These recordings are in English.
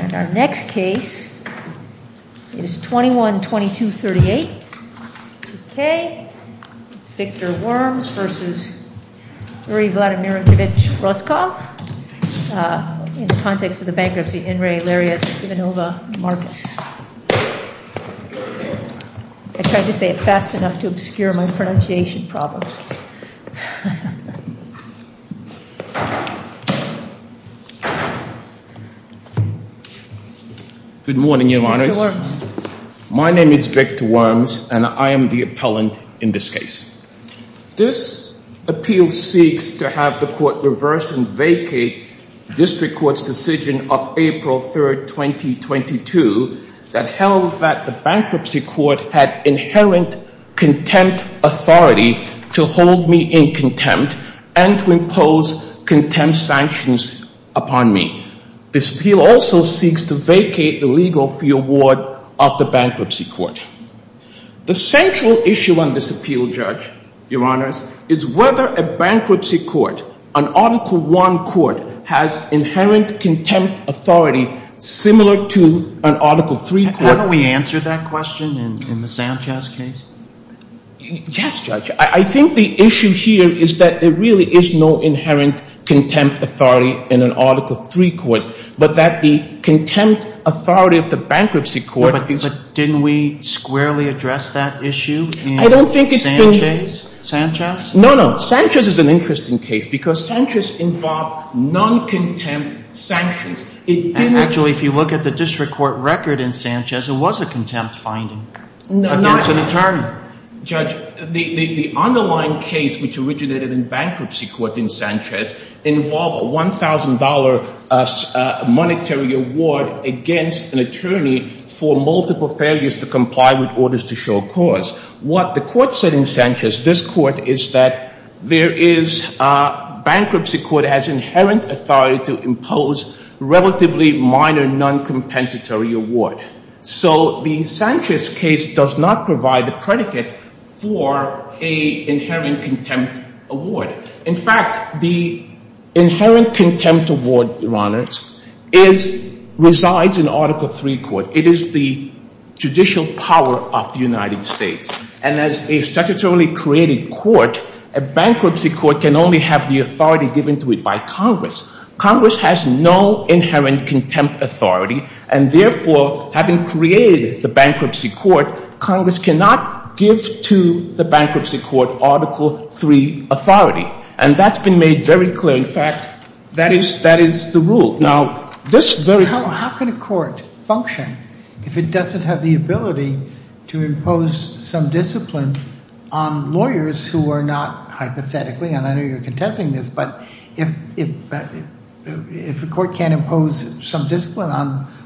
And our next case is 21-22-38, 2K, it's Victor Worms versus Yuri Vladimirovich Roskov in the context of the bankruptcy. In re. Larisa Ivanovna Markus. I tried to say it fast enough to obscure my pronunciation problems. Good morning, your honors. My name is Victor Worms and I am the appellant in this case. This appeal seeks to have the court reverse and vacate the district court's decision of April 3, 2022, that held that the bankruptcy court had inherent contempt authority to hold me in contempt and to impose contempt sanctions upon me. This appeal also seeks to vacate the legal fee award of the bankruptcy court. The central issue on this appeal, judge, your honors, is whether a bankruptcy court, an Article I court, has inherent contempt authority similar to an Article III court. Have we answered that question in the Sanchez case? Yes, judge. I think the issue here is that there really is no inherent contempt authority in an Article III court, but that the contempt authority of the bankruptcy court. But didn't we squarely address that issue in Sanchez? No, no. Sanchez is an interesting case because Sanchez involved non-contempt sanctions. Actually, if you look at the district court record in Sanchez, it was a contempt finding against an attorney. Judge, the underlying case which originated in bankruptcy court in Sanchez involved a $1,000 monetary award against an attorney for multiple failures to comply with orders to show cause. What the court said in Sanchez, this court, is that there is bankruptcy court has inherent authority to impose relatively minor non-competitory award. So the Sanchez case does not provide the predicate for an inherent contempt award. In fact, the inherent contempt award, your honors, resides in Article III court. It is the judicial power of the United States. And as a statutorily created court, a bankruptcy court can only have the authority given to it by Congress. Congress has no inherent contempt authority, and therefore, having created the bankruptcy court, Congress cannot give to the bankruptcy court Article III authority. And that's been made very clear. In fact, that is the rule. How can a court function if it doesn't have the ability to impose some discipline on lawyers who are not hypothetically, and I know you're contesting this, but if a court can't impose some discipline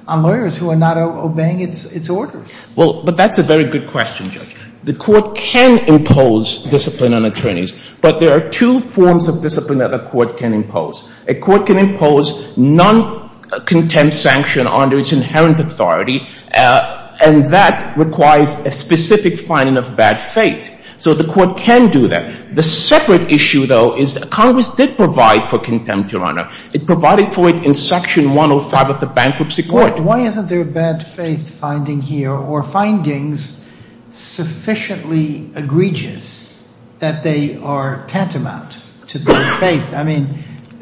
on lawyers who are not obeying its orders? Well, but that's a very good question, Judge. The court can impose discipline on attorneys. But there are two forms of discipline that a court can impose. A court can impose non-contempt sanction under its inherent authority, and that requires a specific finding of bad faith. So the court can do that. The separate issue, though, is Congress did provide for contempt, your honor. It provided for it in Section 105 of the bankruptcy court. Why isn't there a bad faith finding here or findings sufficiently egregious that they are tantamount to good faith? I mean,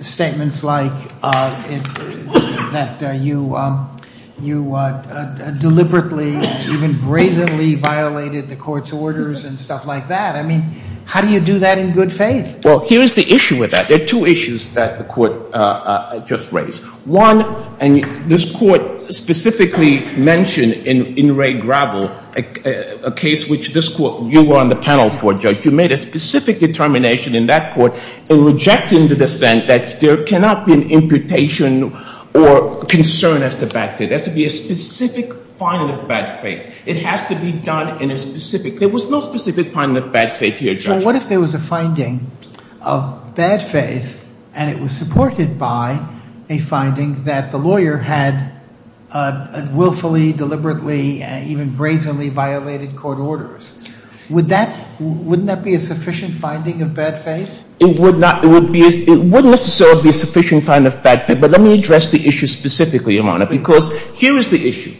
statements like that you deliberately, even brazenly violated the court's orders and stuff like that. I mean, how do you do that in good faith? Well, here's the issue with that. There are two issues that the court just raised. One, and this court specifically mentioned in Ray Gravel, a case which this court, you were on the panel for, Judge, you made a specific determination in that court in rejecting the dissent that there cannot be an imputation or concern as to bad faith. There has to be a specific finding of bad faith. It has to be done in a specific – there was no specific finding of bad faith here, Judge. So what if there was a finding of bad faith and it was supported by a finding that the lawyer had willfully, deliberately, even brazenly violated court orders? Would that – wouldn't that be a sufficient finding of bad faith? It would not – it would be – it wouldn't necessarily be a sufficient finding of bad faith, but let me address the issue specifically, your honor, because here is the issue.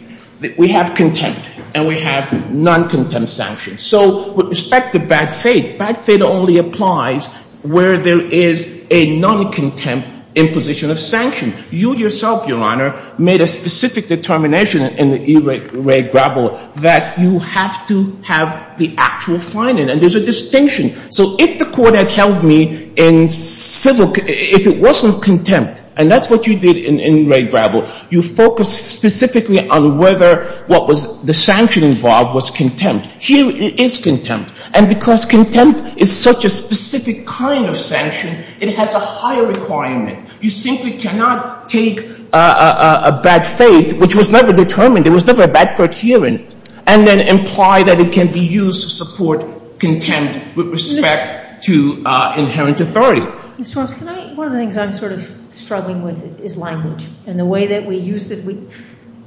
We have contempt and we have non-contempt sanctions. So with respect to bad faith, bad faith only applies where there is a non-contempt imposition of sanction. You yourself, your honor, made a specific determination in Ray Gravel that you have to have the actual finding. And there's a distinction. So if the court had held me in civil – if it wasn't contempt, and that's what you did in Ray Gravel, you focused specifically on whether what was – the sanction involved was contempt. Here it is contempt. And because contempt is such a specific kind of sanction, it has a higher requirement. You simply cannot take a bad faith, which was never determined, there was never a bad court hearing, and then imply that it can be used to support contempt with respect to inherent authority. Ms. Torrence, can I – one of the things I'm sort of struggling with is language. And the way that we use – we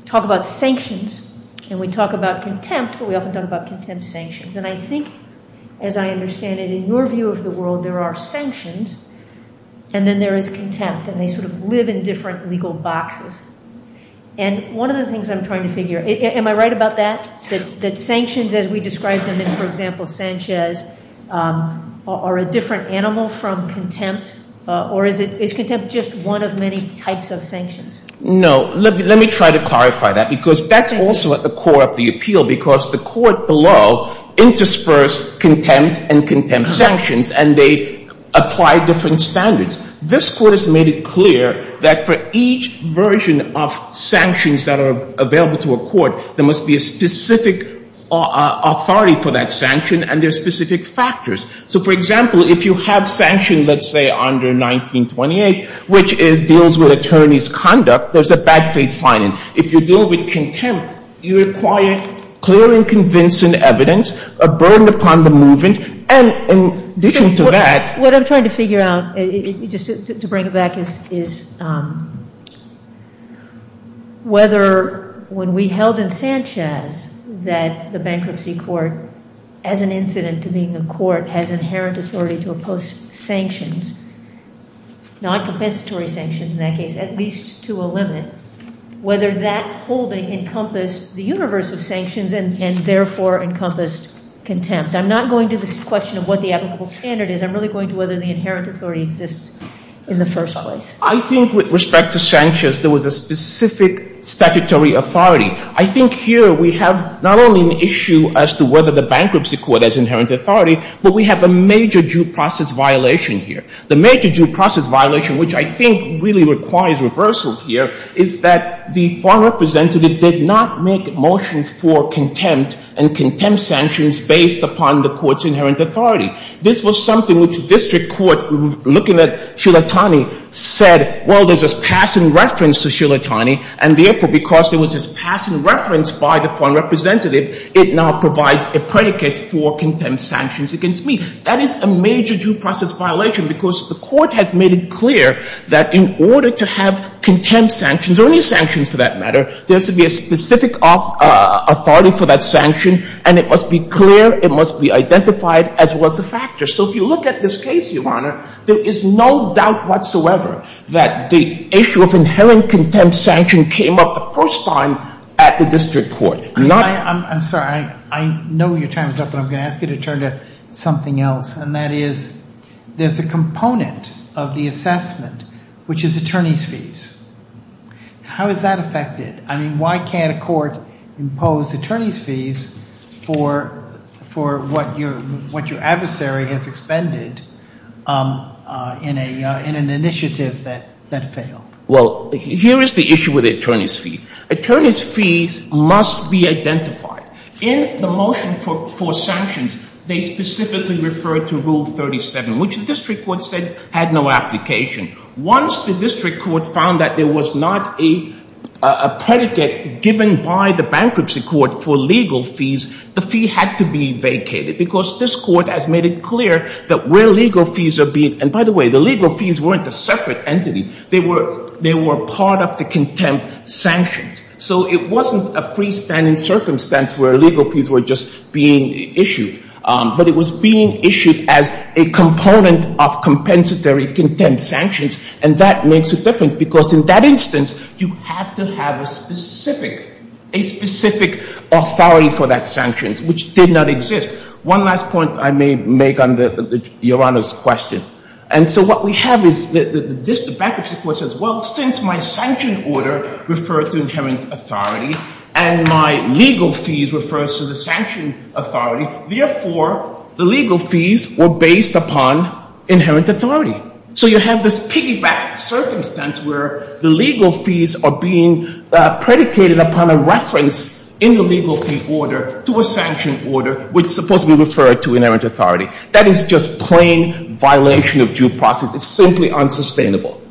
talk about sanctions and we talk about contempt, but we often talk about contempt sanctions. And I think, as I understand it, in your view of the world, there are sanctions, and then there is contempt, and they sort of live in different legal boxes. And one of the things I'm trying to figure – am I right about that? That sanctions, as we described them in, for example, Sanchez, are a different animal from contempt? Or is contempt just one of many types of sanctions? No. Let me try to clarify that, because that's also at the core of the appeal, because the court below interspersed contempt and contempt sanctions, and they apply different standards. This court has made it clear that for each version of sanctions that are available to a court, there must be a specific authority for that sanction and their specific factors. So, for example, if you have sanctions, let's say, under 1928, which deals with attorney's conduct, there's a bad faith finding. If you deal with contempt, you require clear and convincing evidence, a burden upon the movement, and in addition to that – What I'm trying to figure out, just to bring it back, is whether when we held in Sanchez that the bankruptcy court, as an incident to being a court, has inherent authority to oppose sanctions, non-compensatory sanctions in that case, at least to a limit, whether that holding encompassed the universe of sanctions and therefore encompassed contempt. I'm not going to the question of what the ethical standard is. I'm really going to whether the inherent authority exists in the first place. I think with respect to Sanchez, there was a specific statutory authority. I think here we have not only an issue as to whether the bankruptcy court has inherent authority, but we have a major due process violation here. The major due process violation, which I think really requires reversal here, is that the foreign representative did not make a motion for contempt and contempt sanctions based upon the court's inherent authority. This was something which district court, looking at Shulatani, said, well, there's this passing reference to Shulatani, and therefore, because there was this passing reference by the foreign representative, it now provides a predicate for contempt sanctions against me. That is a major due process violation because the court has made it clear that in order to have contempt sanctions, or any sanctions for that matter, there has to be a specific authority for that sanction, and it must be clear, it must be identified as well as a factor. So if you look at this case, Your Honor, there is no doubt whatsoever that the issue of inherent contempt sanction came up the first time at the district court. I'm sorry, I know your time is up, but I'm going to ask you to turn to something else, and that is there's a component of the assessment, which is attorney's fees. How is that affected? I mean, why can't a court impose attorney's fees for what your adversary has expended in an initiative that failed? Well, here is the issue with attorney's fees. Attorney's fees must be identified. In the motion for sanctions, they specifically referred to Rule 37, which the district court said had no application. Once the district court found that there was not a predicate given by the bankruptcy court for legal fees, the fee had to be vacated because this court has made it clear that where legal fees are being, and by the way, the legal fees weren't a separate entity. They were part of the contempt sanctions. So it wasn't a freestanding circumstance where legal fees were just being issued, but it was being issued as a component of compensatory contempt sanctions, and that makes a difference because in that instance, you have to have a specific authority for that sanctions, which did not exist. One last point I may make on Your Honor's question. And so what we have is the bankruptcy court says, well, since my sanction order referred to inherent authority, and my legal fees referred to the sanction authority, therefore, the legal fees were based upon inherent authority. So you have this piggyback circumstance where the legal fees are being predicated upon a reference in the legal fee order to a sanction order, which supposedly referred to inherent authority. That is just plain violation of due process. It's simply unsustainable.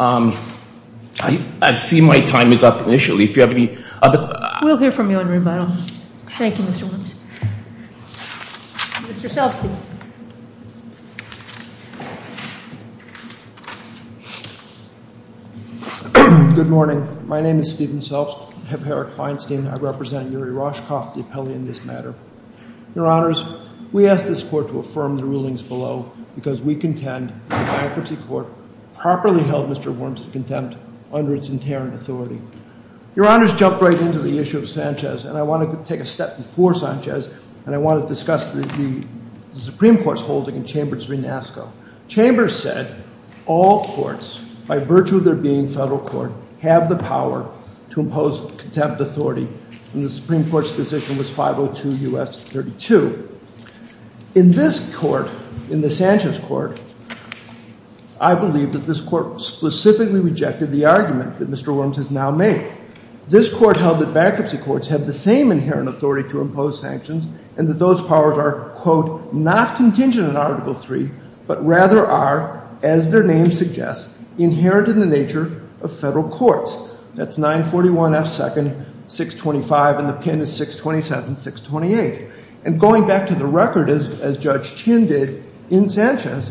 I see my time is up initially. If you have any other questions. We'll hear from you on rebuttal. Thank you, Mr. Williams. Mr. Selbsky. Good morning. My name is Stephen Selbsky. I have Herrick Feinstein. I represent Yuri Roshkov, the appellee in this matter. Your Honors, we ask this court to affirm the rulings below because we contend the bankruptcy court properly held Mr. Worms in contempt under its inherent authority. Your Honors, jump right into the issue of Sanchez. And I want to take a step before Sanchez, and I want to discuss the Supreme Court's holding in Chambers v. NASCO. Chambers said all courts, by virtue of their being federal court, have the power to impose sanctions. In this court, in the Sanchez court, I believe that this court specifically rejected the argument that Mr. Worms has now made. This court held that bankruptcy courts have the same inherent authority to impose sanctions and that those powers are, quote, not contingent on Article III, but rather are, as their name suggests, inherent in the nature of federal courts. That's 941 F. 2nd, 625, and the pin is 627, 628. And going back to the record, as Judge Chin did in Sanchez,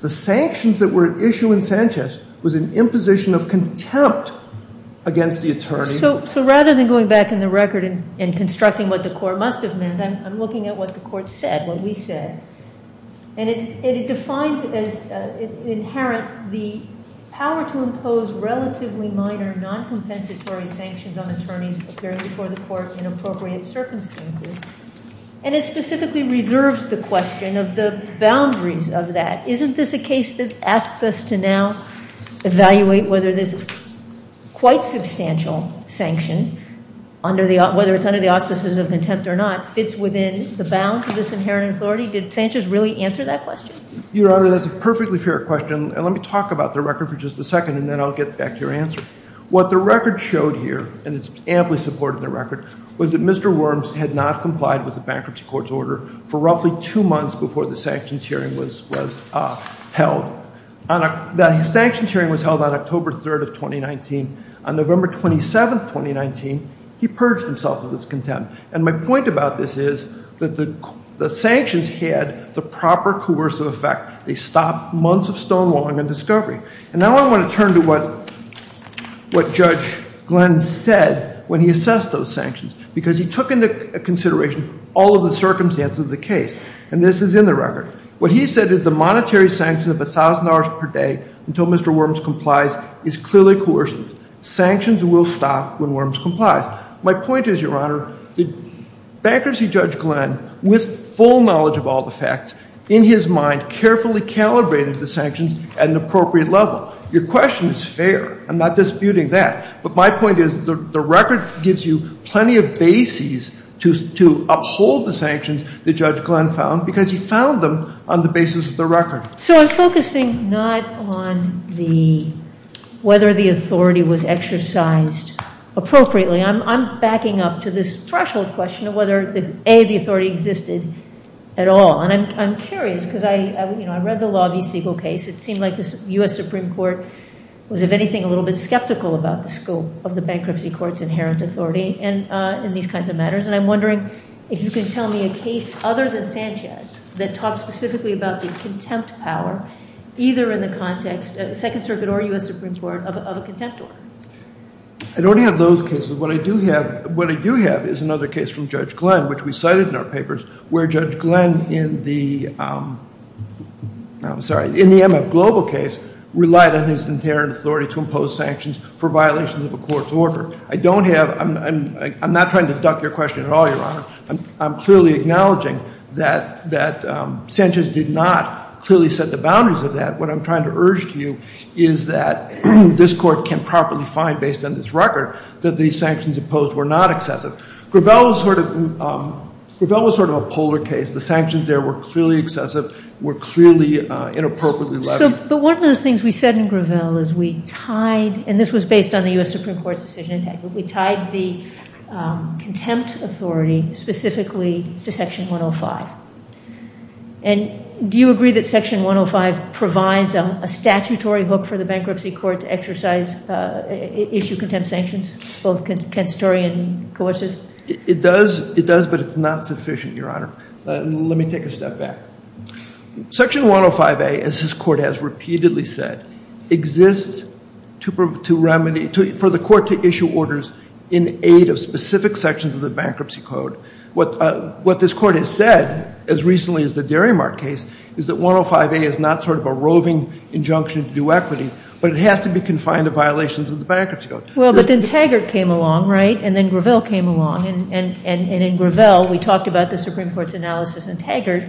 the sanctions that were at issue in Sanchez was an imposition of contempt against the attorney. So rather than going back in the record and constructing what the court must have meant, I'm looking at what the court said, what we said. And it defines as inherent the power to impose relatively minor noncompensatory sanctions on attorneys appearing before the court in appropriate circumstances. And it specifically reserves the question of the boundaries of that. Isn't this a case that asks us to now evaluate whether this quite substantial sanction, whether it's under the auspices of contempt or not, fits within the bounds of this inherent authority? Did Sanchez really answer that question? Your Honor, that's a perfectly fair question. And let me talk about the record for just a second, and then I'll get back to your answer. What the record showed here, and it's amply supported in the record, was that Mr. Worms had not complied with the bankruptcy court's order for roughly two months before the sanctions hearing was held. The sanctions hearing was held on October 3rd of 2019. On November 27th, 2019, he purged himself of his contempt. And my point about this is that the sanctions had the proper coercive effect. They stopped months of stonewalling and discovery. And now I want to turn to what Judge Glenn said when he assessed those sanctions, because he took into consideration all of the circumstances of the case. And this is in the record. What he said is the monetary sanction of $1,000 per day until Mr. Worms complies is clearly coercive. Sanctions will stop when Worms complies. My point is, Your Honor, bankruptcy Judge Glenn, with full knowledge of all the facts, in his mind carefully calibrated the sanctions at an appropriate level. Your question is fair. I'm not disputing that. But my point is the record gives you plenty of bases to uphold the sanctions that Judge Glenn found, because he found them on the basis of the record. So I'm focusing not on whether the authority was exercised appropriately. I'm backing up to this threshold question of whether, A, the authority existed at all. And I'm curious, because I read the Law v. Siegel case. It seemed like the U.S. Supreme Court was, if anything, a little bit skeptical about the scope of the bankruptcy court's inherent authority in these kinds of matters. And I'm wondering if you can tell me a case other than Sanchez that talks specifically about the contempt power, either in the context, Second Circuit or U.S. Supreme Court, of a contempt order. I don't have those cases. What I do have is another case from Judge Glenn, which we cited in our papers, where Judge Glenn in the MF Global case relied on his inherent authority to impose sanctions for violations of a court's order. I don't have – I'm not trying to duck your question at all, Your Honor. I'm clearly acknowledging that Sanchez did not clearly set the boundaries of that. What I'm trying to urge to you is that this Court can properly find, based on this record, that these sanctions imposed were not excessive. Gravel was sort of a polar case. The sanctions there were clearly excessive, were clearly inappropriately levied. But one of the things we said in Gravel is we tied – and this was based on the U.S. Supreme Court's decision – we tied the contempt authority specifically to Section 105. And do you agree that Section 105 provides a statutory hook for the bankruptcy court to exercise – issue contempt sanctions, both constitutory and coercive? It does, but it's not sufficient, Your Honor. Let me take a step back. Section 105A, as this Court has repeatedly said, exists to remedy – for the Court to issue orders in aid of specific sections of the bankruptcy code. What this Court has said, as recently as the Derrymark case, is that 105A is not sort of a roving injunction to do equity, but it has to be confined to violations of the bankruptcy code. Well, but then Taggart came along, right? And then Gravel came along. And in Gravel, we talked about the Supreme Court's analysis in Taggart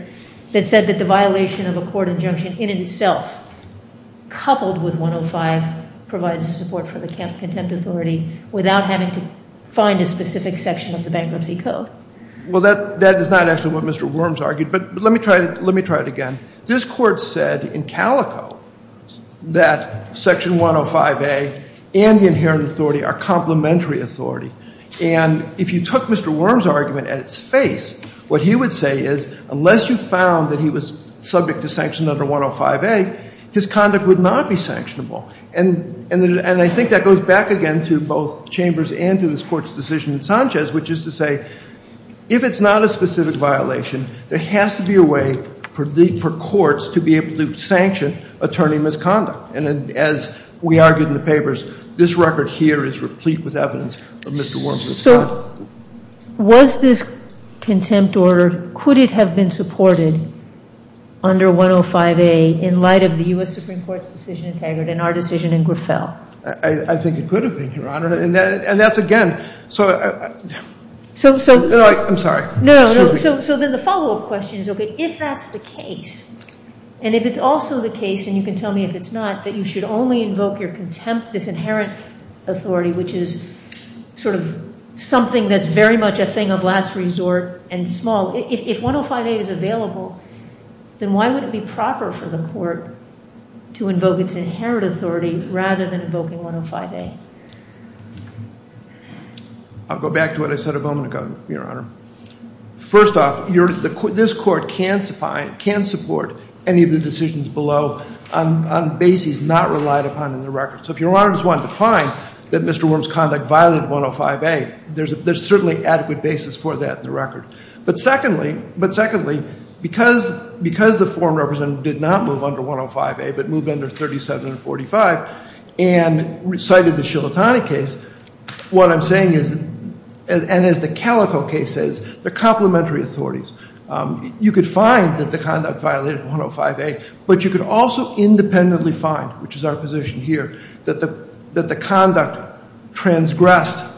that said that the violation of a court injunction in itself, coupled with 105, provides support for the contempt authority without having to find a specific section of the bankruptcy code. Well, that is not actually what Mr. Worms argued. But let me try it again. This Court said in Calico that Section 105A and the inherent authority are complementary authority. And if you took Mr. Worms' argument at its face, what he would say is unless you found that he was subject to sanction under 105A, his conduct would not be sanctionable. And I think that goes back again to both Chambers and to this Court's decision in Sanchez, which is to say if it's not a specific violation, there has to be a way for courts to be able to sanction attorney misconduct. And as we argued in the papers, this record here is replete with evidence of Mr. Worms' conduct. So was this contempt order, could it have been supported under 105A in light of the U.S. Supreme Court's decision in Taggart and our decision in Gravel? I think it could have been, Your Honor. And that's, again, so I'm sorry. No, no. So then the follow-up question is, okay, if that's the case, and if it's also the case, and you can tell me if it's not, that you should only invoke your contempt, this inherent authority, which is sort of something that's very much a thing of last resort and small. If 105A is available, then why would it be proper for the court to invoke its inherent authority rather than invoking 105A? I'll go back to what I said a moment ago, Your Honor. First off, this court can support any of the decisions below on bases not relied upon in the record. So if Your Honor just wanted to find that Mr. Worms' conduct violated 105A, there's certainly adequate basis for that in the record. But secondly, because the foreign representative did not move under 105A but moved under 3745 and cited the Shilatani case, what I'm saying is, and as the Calico case says, they're complementary authorities. You could find that the conduct violated 105A, but you could also independently find, which is our position here, that the conduct transgressed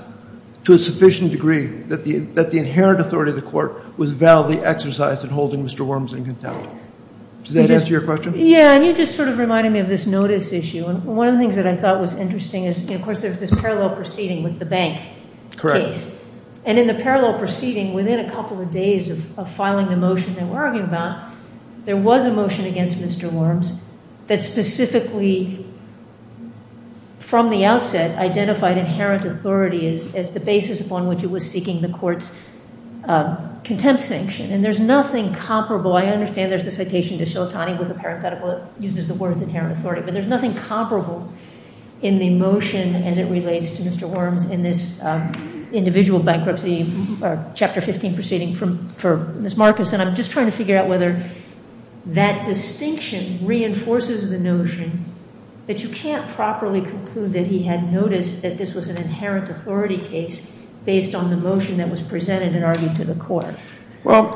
to a sufficient degree that the inherent authority of the court was validly exercised in holding Mr. Worms in contempt. Does that answer your question? Yeah, and you just sort of reminded me of this notice issue. One of the things that I thought was interesting is, of course, there's this parallel proceeding with the bank case. Correct. And in the parallel proceeding, within a couple of days of filing the motion that we're arguing about, there was a motion against Mr. Worms that specifically, from the outset, identified inherent authority as the basis upon which it was seeking the court's contempt sanction. And there's nothing comparable. I understand there's a citation to Shilatani with a parenthetical that uses the words inherent authority, but there's nothing comparable in the motion as it relates to Mr. Worms in this individual bankruptcy, Chapter 15 proceeding for Ms. Marcus, and I'm just trying to figure out whether that distinction reinforces the notion that you can't properly conclude that he had noticed that this was an inherent authority case based on the motion that was presented and argued to the court. Well,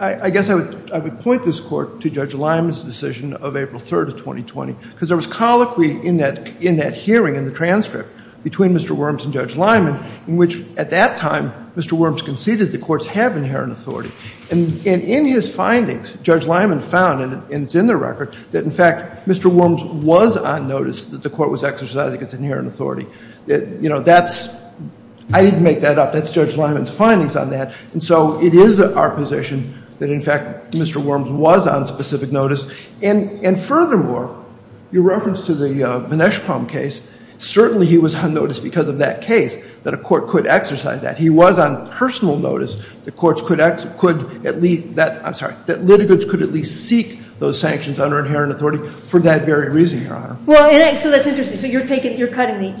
I guess I would point this Court to Judge Lyman's decision of April 3rd of 2020, because there was colloquy in that hearing in the transcript between Mr. Worms and Judge Lyman in which, at that time, Mr. Worms conceded the courts have inherent authority. And in his findings, Judge Lyman found, and it's in the record, that, in fact, Mr. Worms was on notice that the court was exercising its inherent authority. You know, that's — I didn't make that up. That's Judge Lyman's findings on that. And so it is our position that, in fact, Mr. Worms was on specific notice. And furthermore, your reference to the Vineshpom case, certainly he was on notice because of that case that a court could exercise that. He was on personal notice that courts could at least — I'm sorry — that litigants could at least seek those sanctions under inherent authority for that very reason, Your Honor. Well, and so that's interesting. So you're taking — you're cutting the —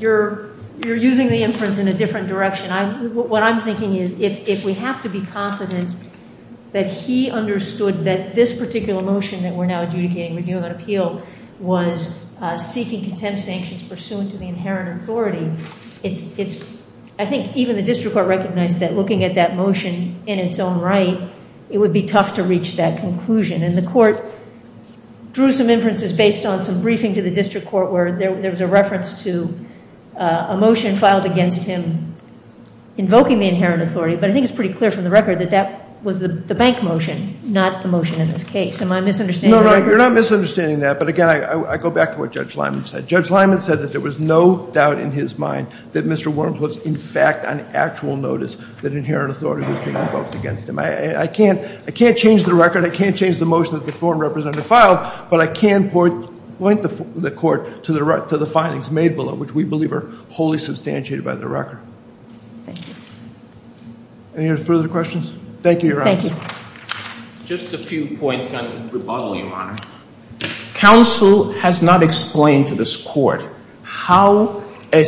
you're using the inference in a different direction. What I'm thinking is if we have to be confident that he understood that this particular motion that we're now adjudicating, reviewing on appeal, was seeking contempt sanctions pursuant to the inherent authority, it's — I think even the district court recognized that looking at that motion in its own right, it would be tough to reach that conclusion. And the court drew some inferences based on some briefing to the district court where there was a reference to a motion filed against him invoking the inherent authority. But I think it's pretty clear from the record that that was the bank motion, not the motion in this case. Am I misunderstanding that? No, no, you're not misunderstanding that. But again, I go back to what Judge Lyman said. Judge Lyman said that there was no doubt in his mind that Mr. Worms was, in fact, on actual notice that inherent authority was being invoked against him. I can't — I can't change the record. I can't change the motion that the foreign representative filed. But I can point the court to the findings made below, which we believe are wholly substantiated by the record. Thank you. Any further questions? Thank you, Your Honor. Thank you. Just a few points on rebuttal, Your Honor. Counsel has not explained to this court how a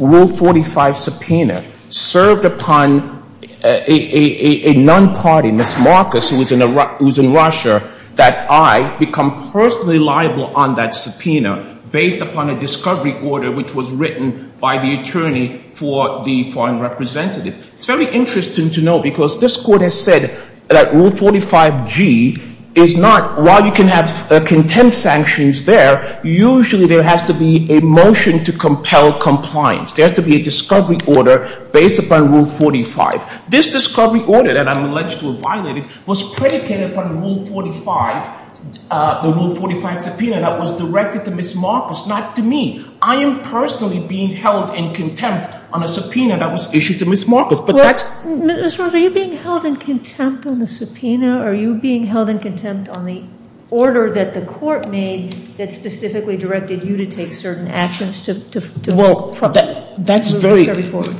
Rule 45 subpoena served upon a non-party, Ms. Marcus, who is in Russia, that I become personally liable on that subpoena based upon a discovery order which was written by the attorney for the foreign representative. It's very interesting to note because this court has said that Rule 45G is not — while you can have contempt sanctions there, usually there has to be a motion to compel compliance. There has to be a discovery order based upon Rule 45. This discovery order that I'm alleged to have violated was predicated upon Rule 45, the Rule 45 subpoena, that was directed to Ms. Marcus, not to me. I am personally being held in contempt on a subpoena that was issued to Ms. Marcus. But that's — Ms. Rogers, are you being held in contempt on the subpoena? Are you being held in contempt on the order that the court made that specifically directed you to take certain actions to — Well, that's very —— to move this case forward?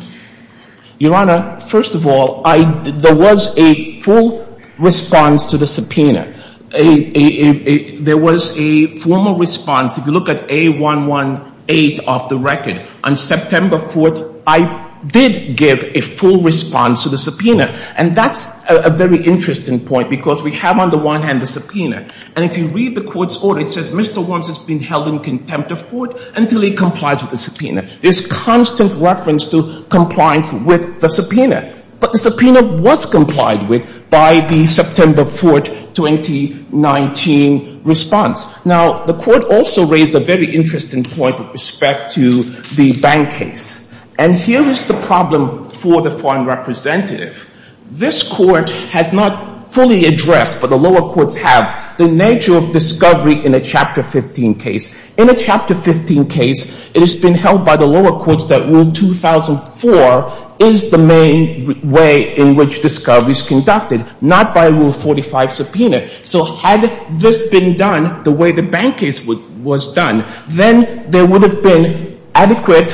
Your Honor, first of all, there was a full response to the subpoena. There was a formal response. If you look at A118 of the record, on September 4th, I did give a full response to the subpoena. And that's a very interesting point because we have on the one hand the subpoena. And if you read the court's order, it says Mr. Worms has been held in contempt of court until he complies with the subpoena. There's constant reference to compliance with the subpoena. But the subpoena was complied with by the September 4th, 2019 response. Now, the court also raised a very interesting point with respect to the bank case. And here is the problem for the foreign representative. This court has not fully addressed, but the lower courts have, the nature of discovery in a Chapter 15 case. In a Chapter 15 case, it has been held by the lower courts that Rule 2004 is the main way in which discovery is conducted, not by Rule 45 subpoena. So had this been done the way the bank case was done, then there would have been adequate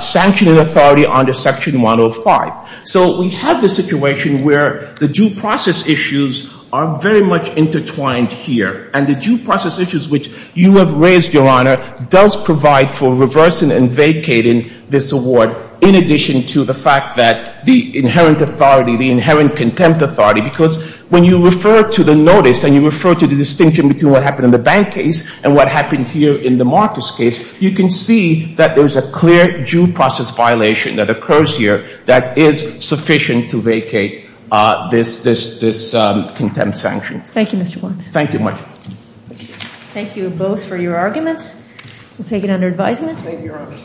sanctioning authority under Section 105. So we have the situation where the due process issues are very much intertwined here. And the due process issues which you have raised, Your Honor, does provide for reversing and vacating this award, in addition to the fact that the inherent authority, the inherent contempt authority. Because when you refer to the notice and you refer to the distinction between what happened in the bank case and what happened here in the Marcus case, you can see that there's a clear due process violation that occurs here that is sufficient to vacate this contempt sanction. Thank you, Mr. Worms. Thank you much. Thank you both for your arguments. We'll take it under advisement. Thank you, Your Honor.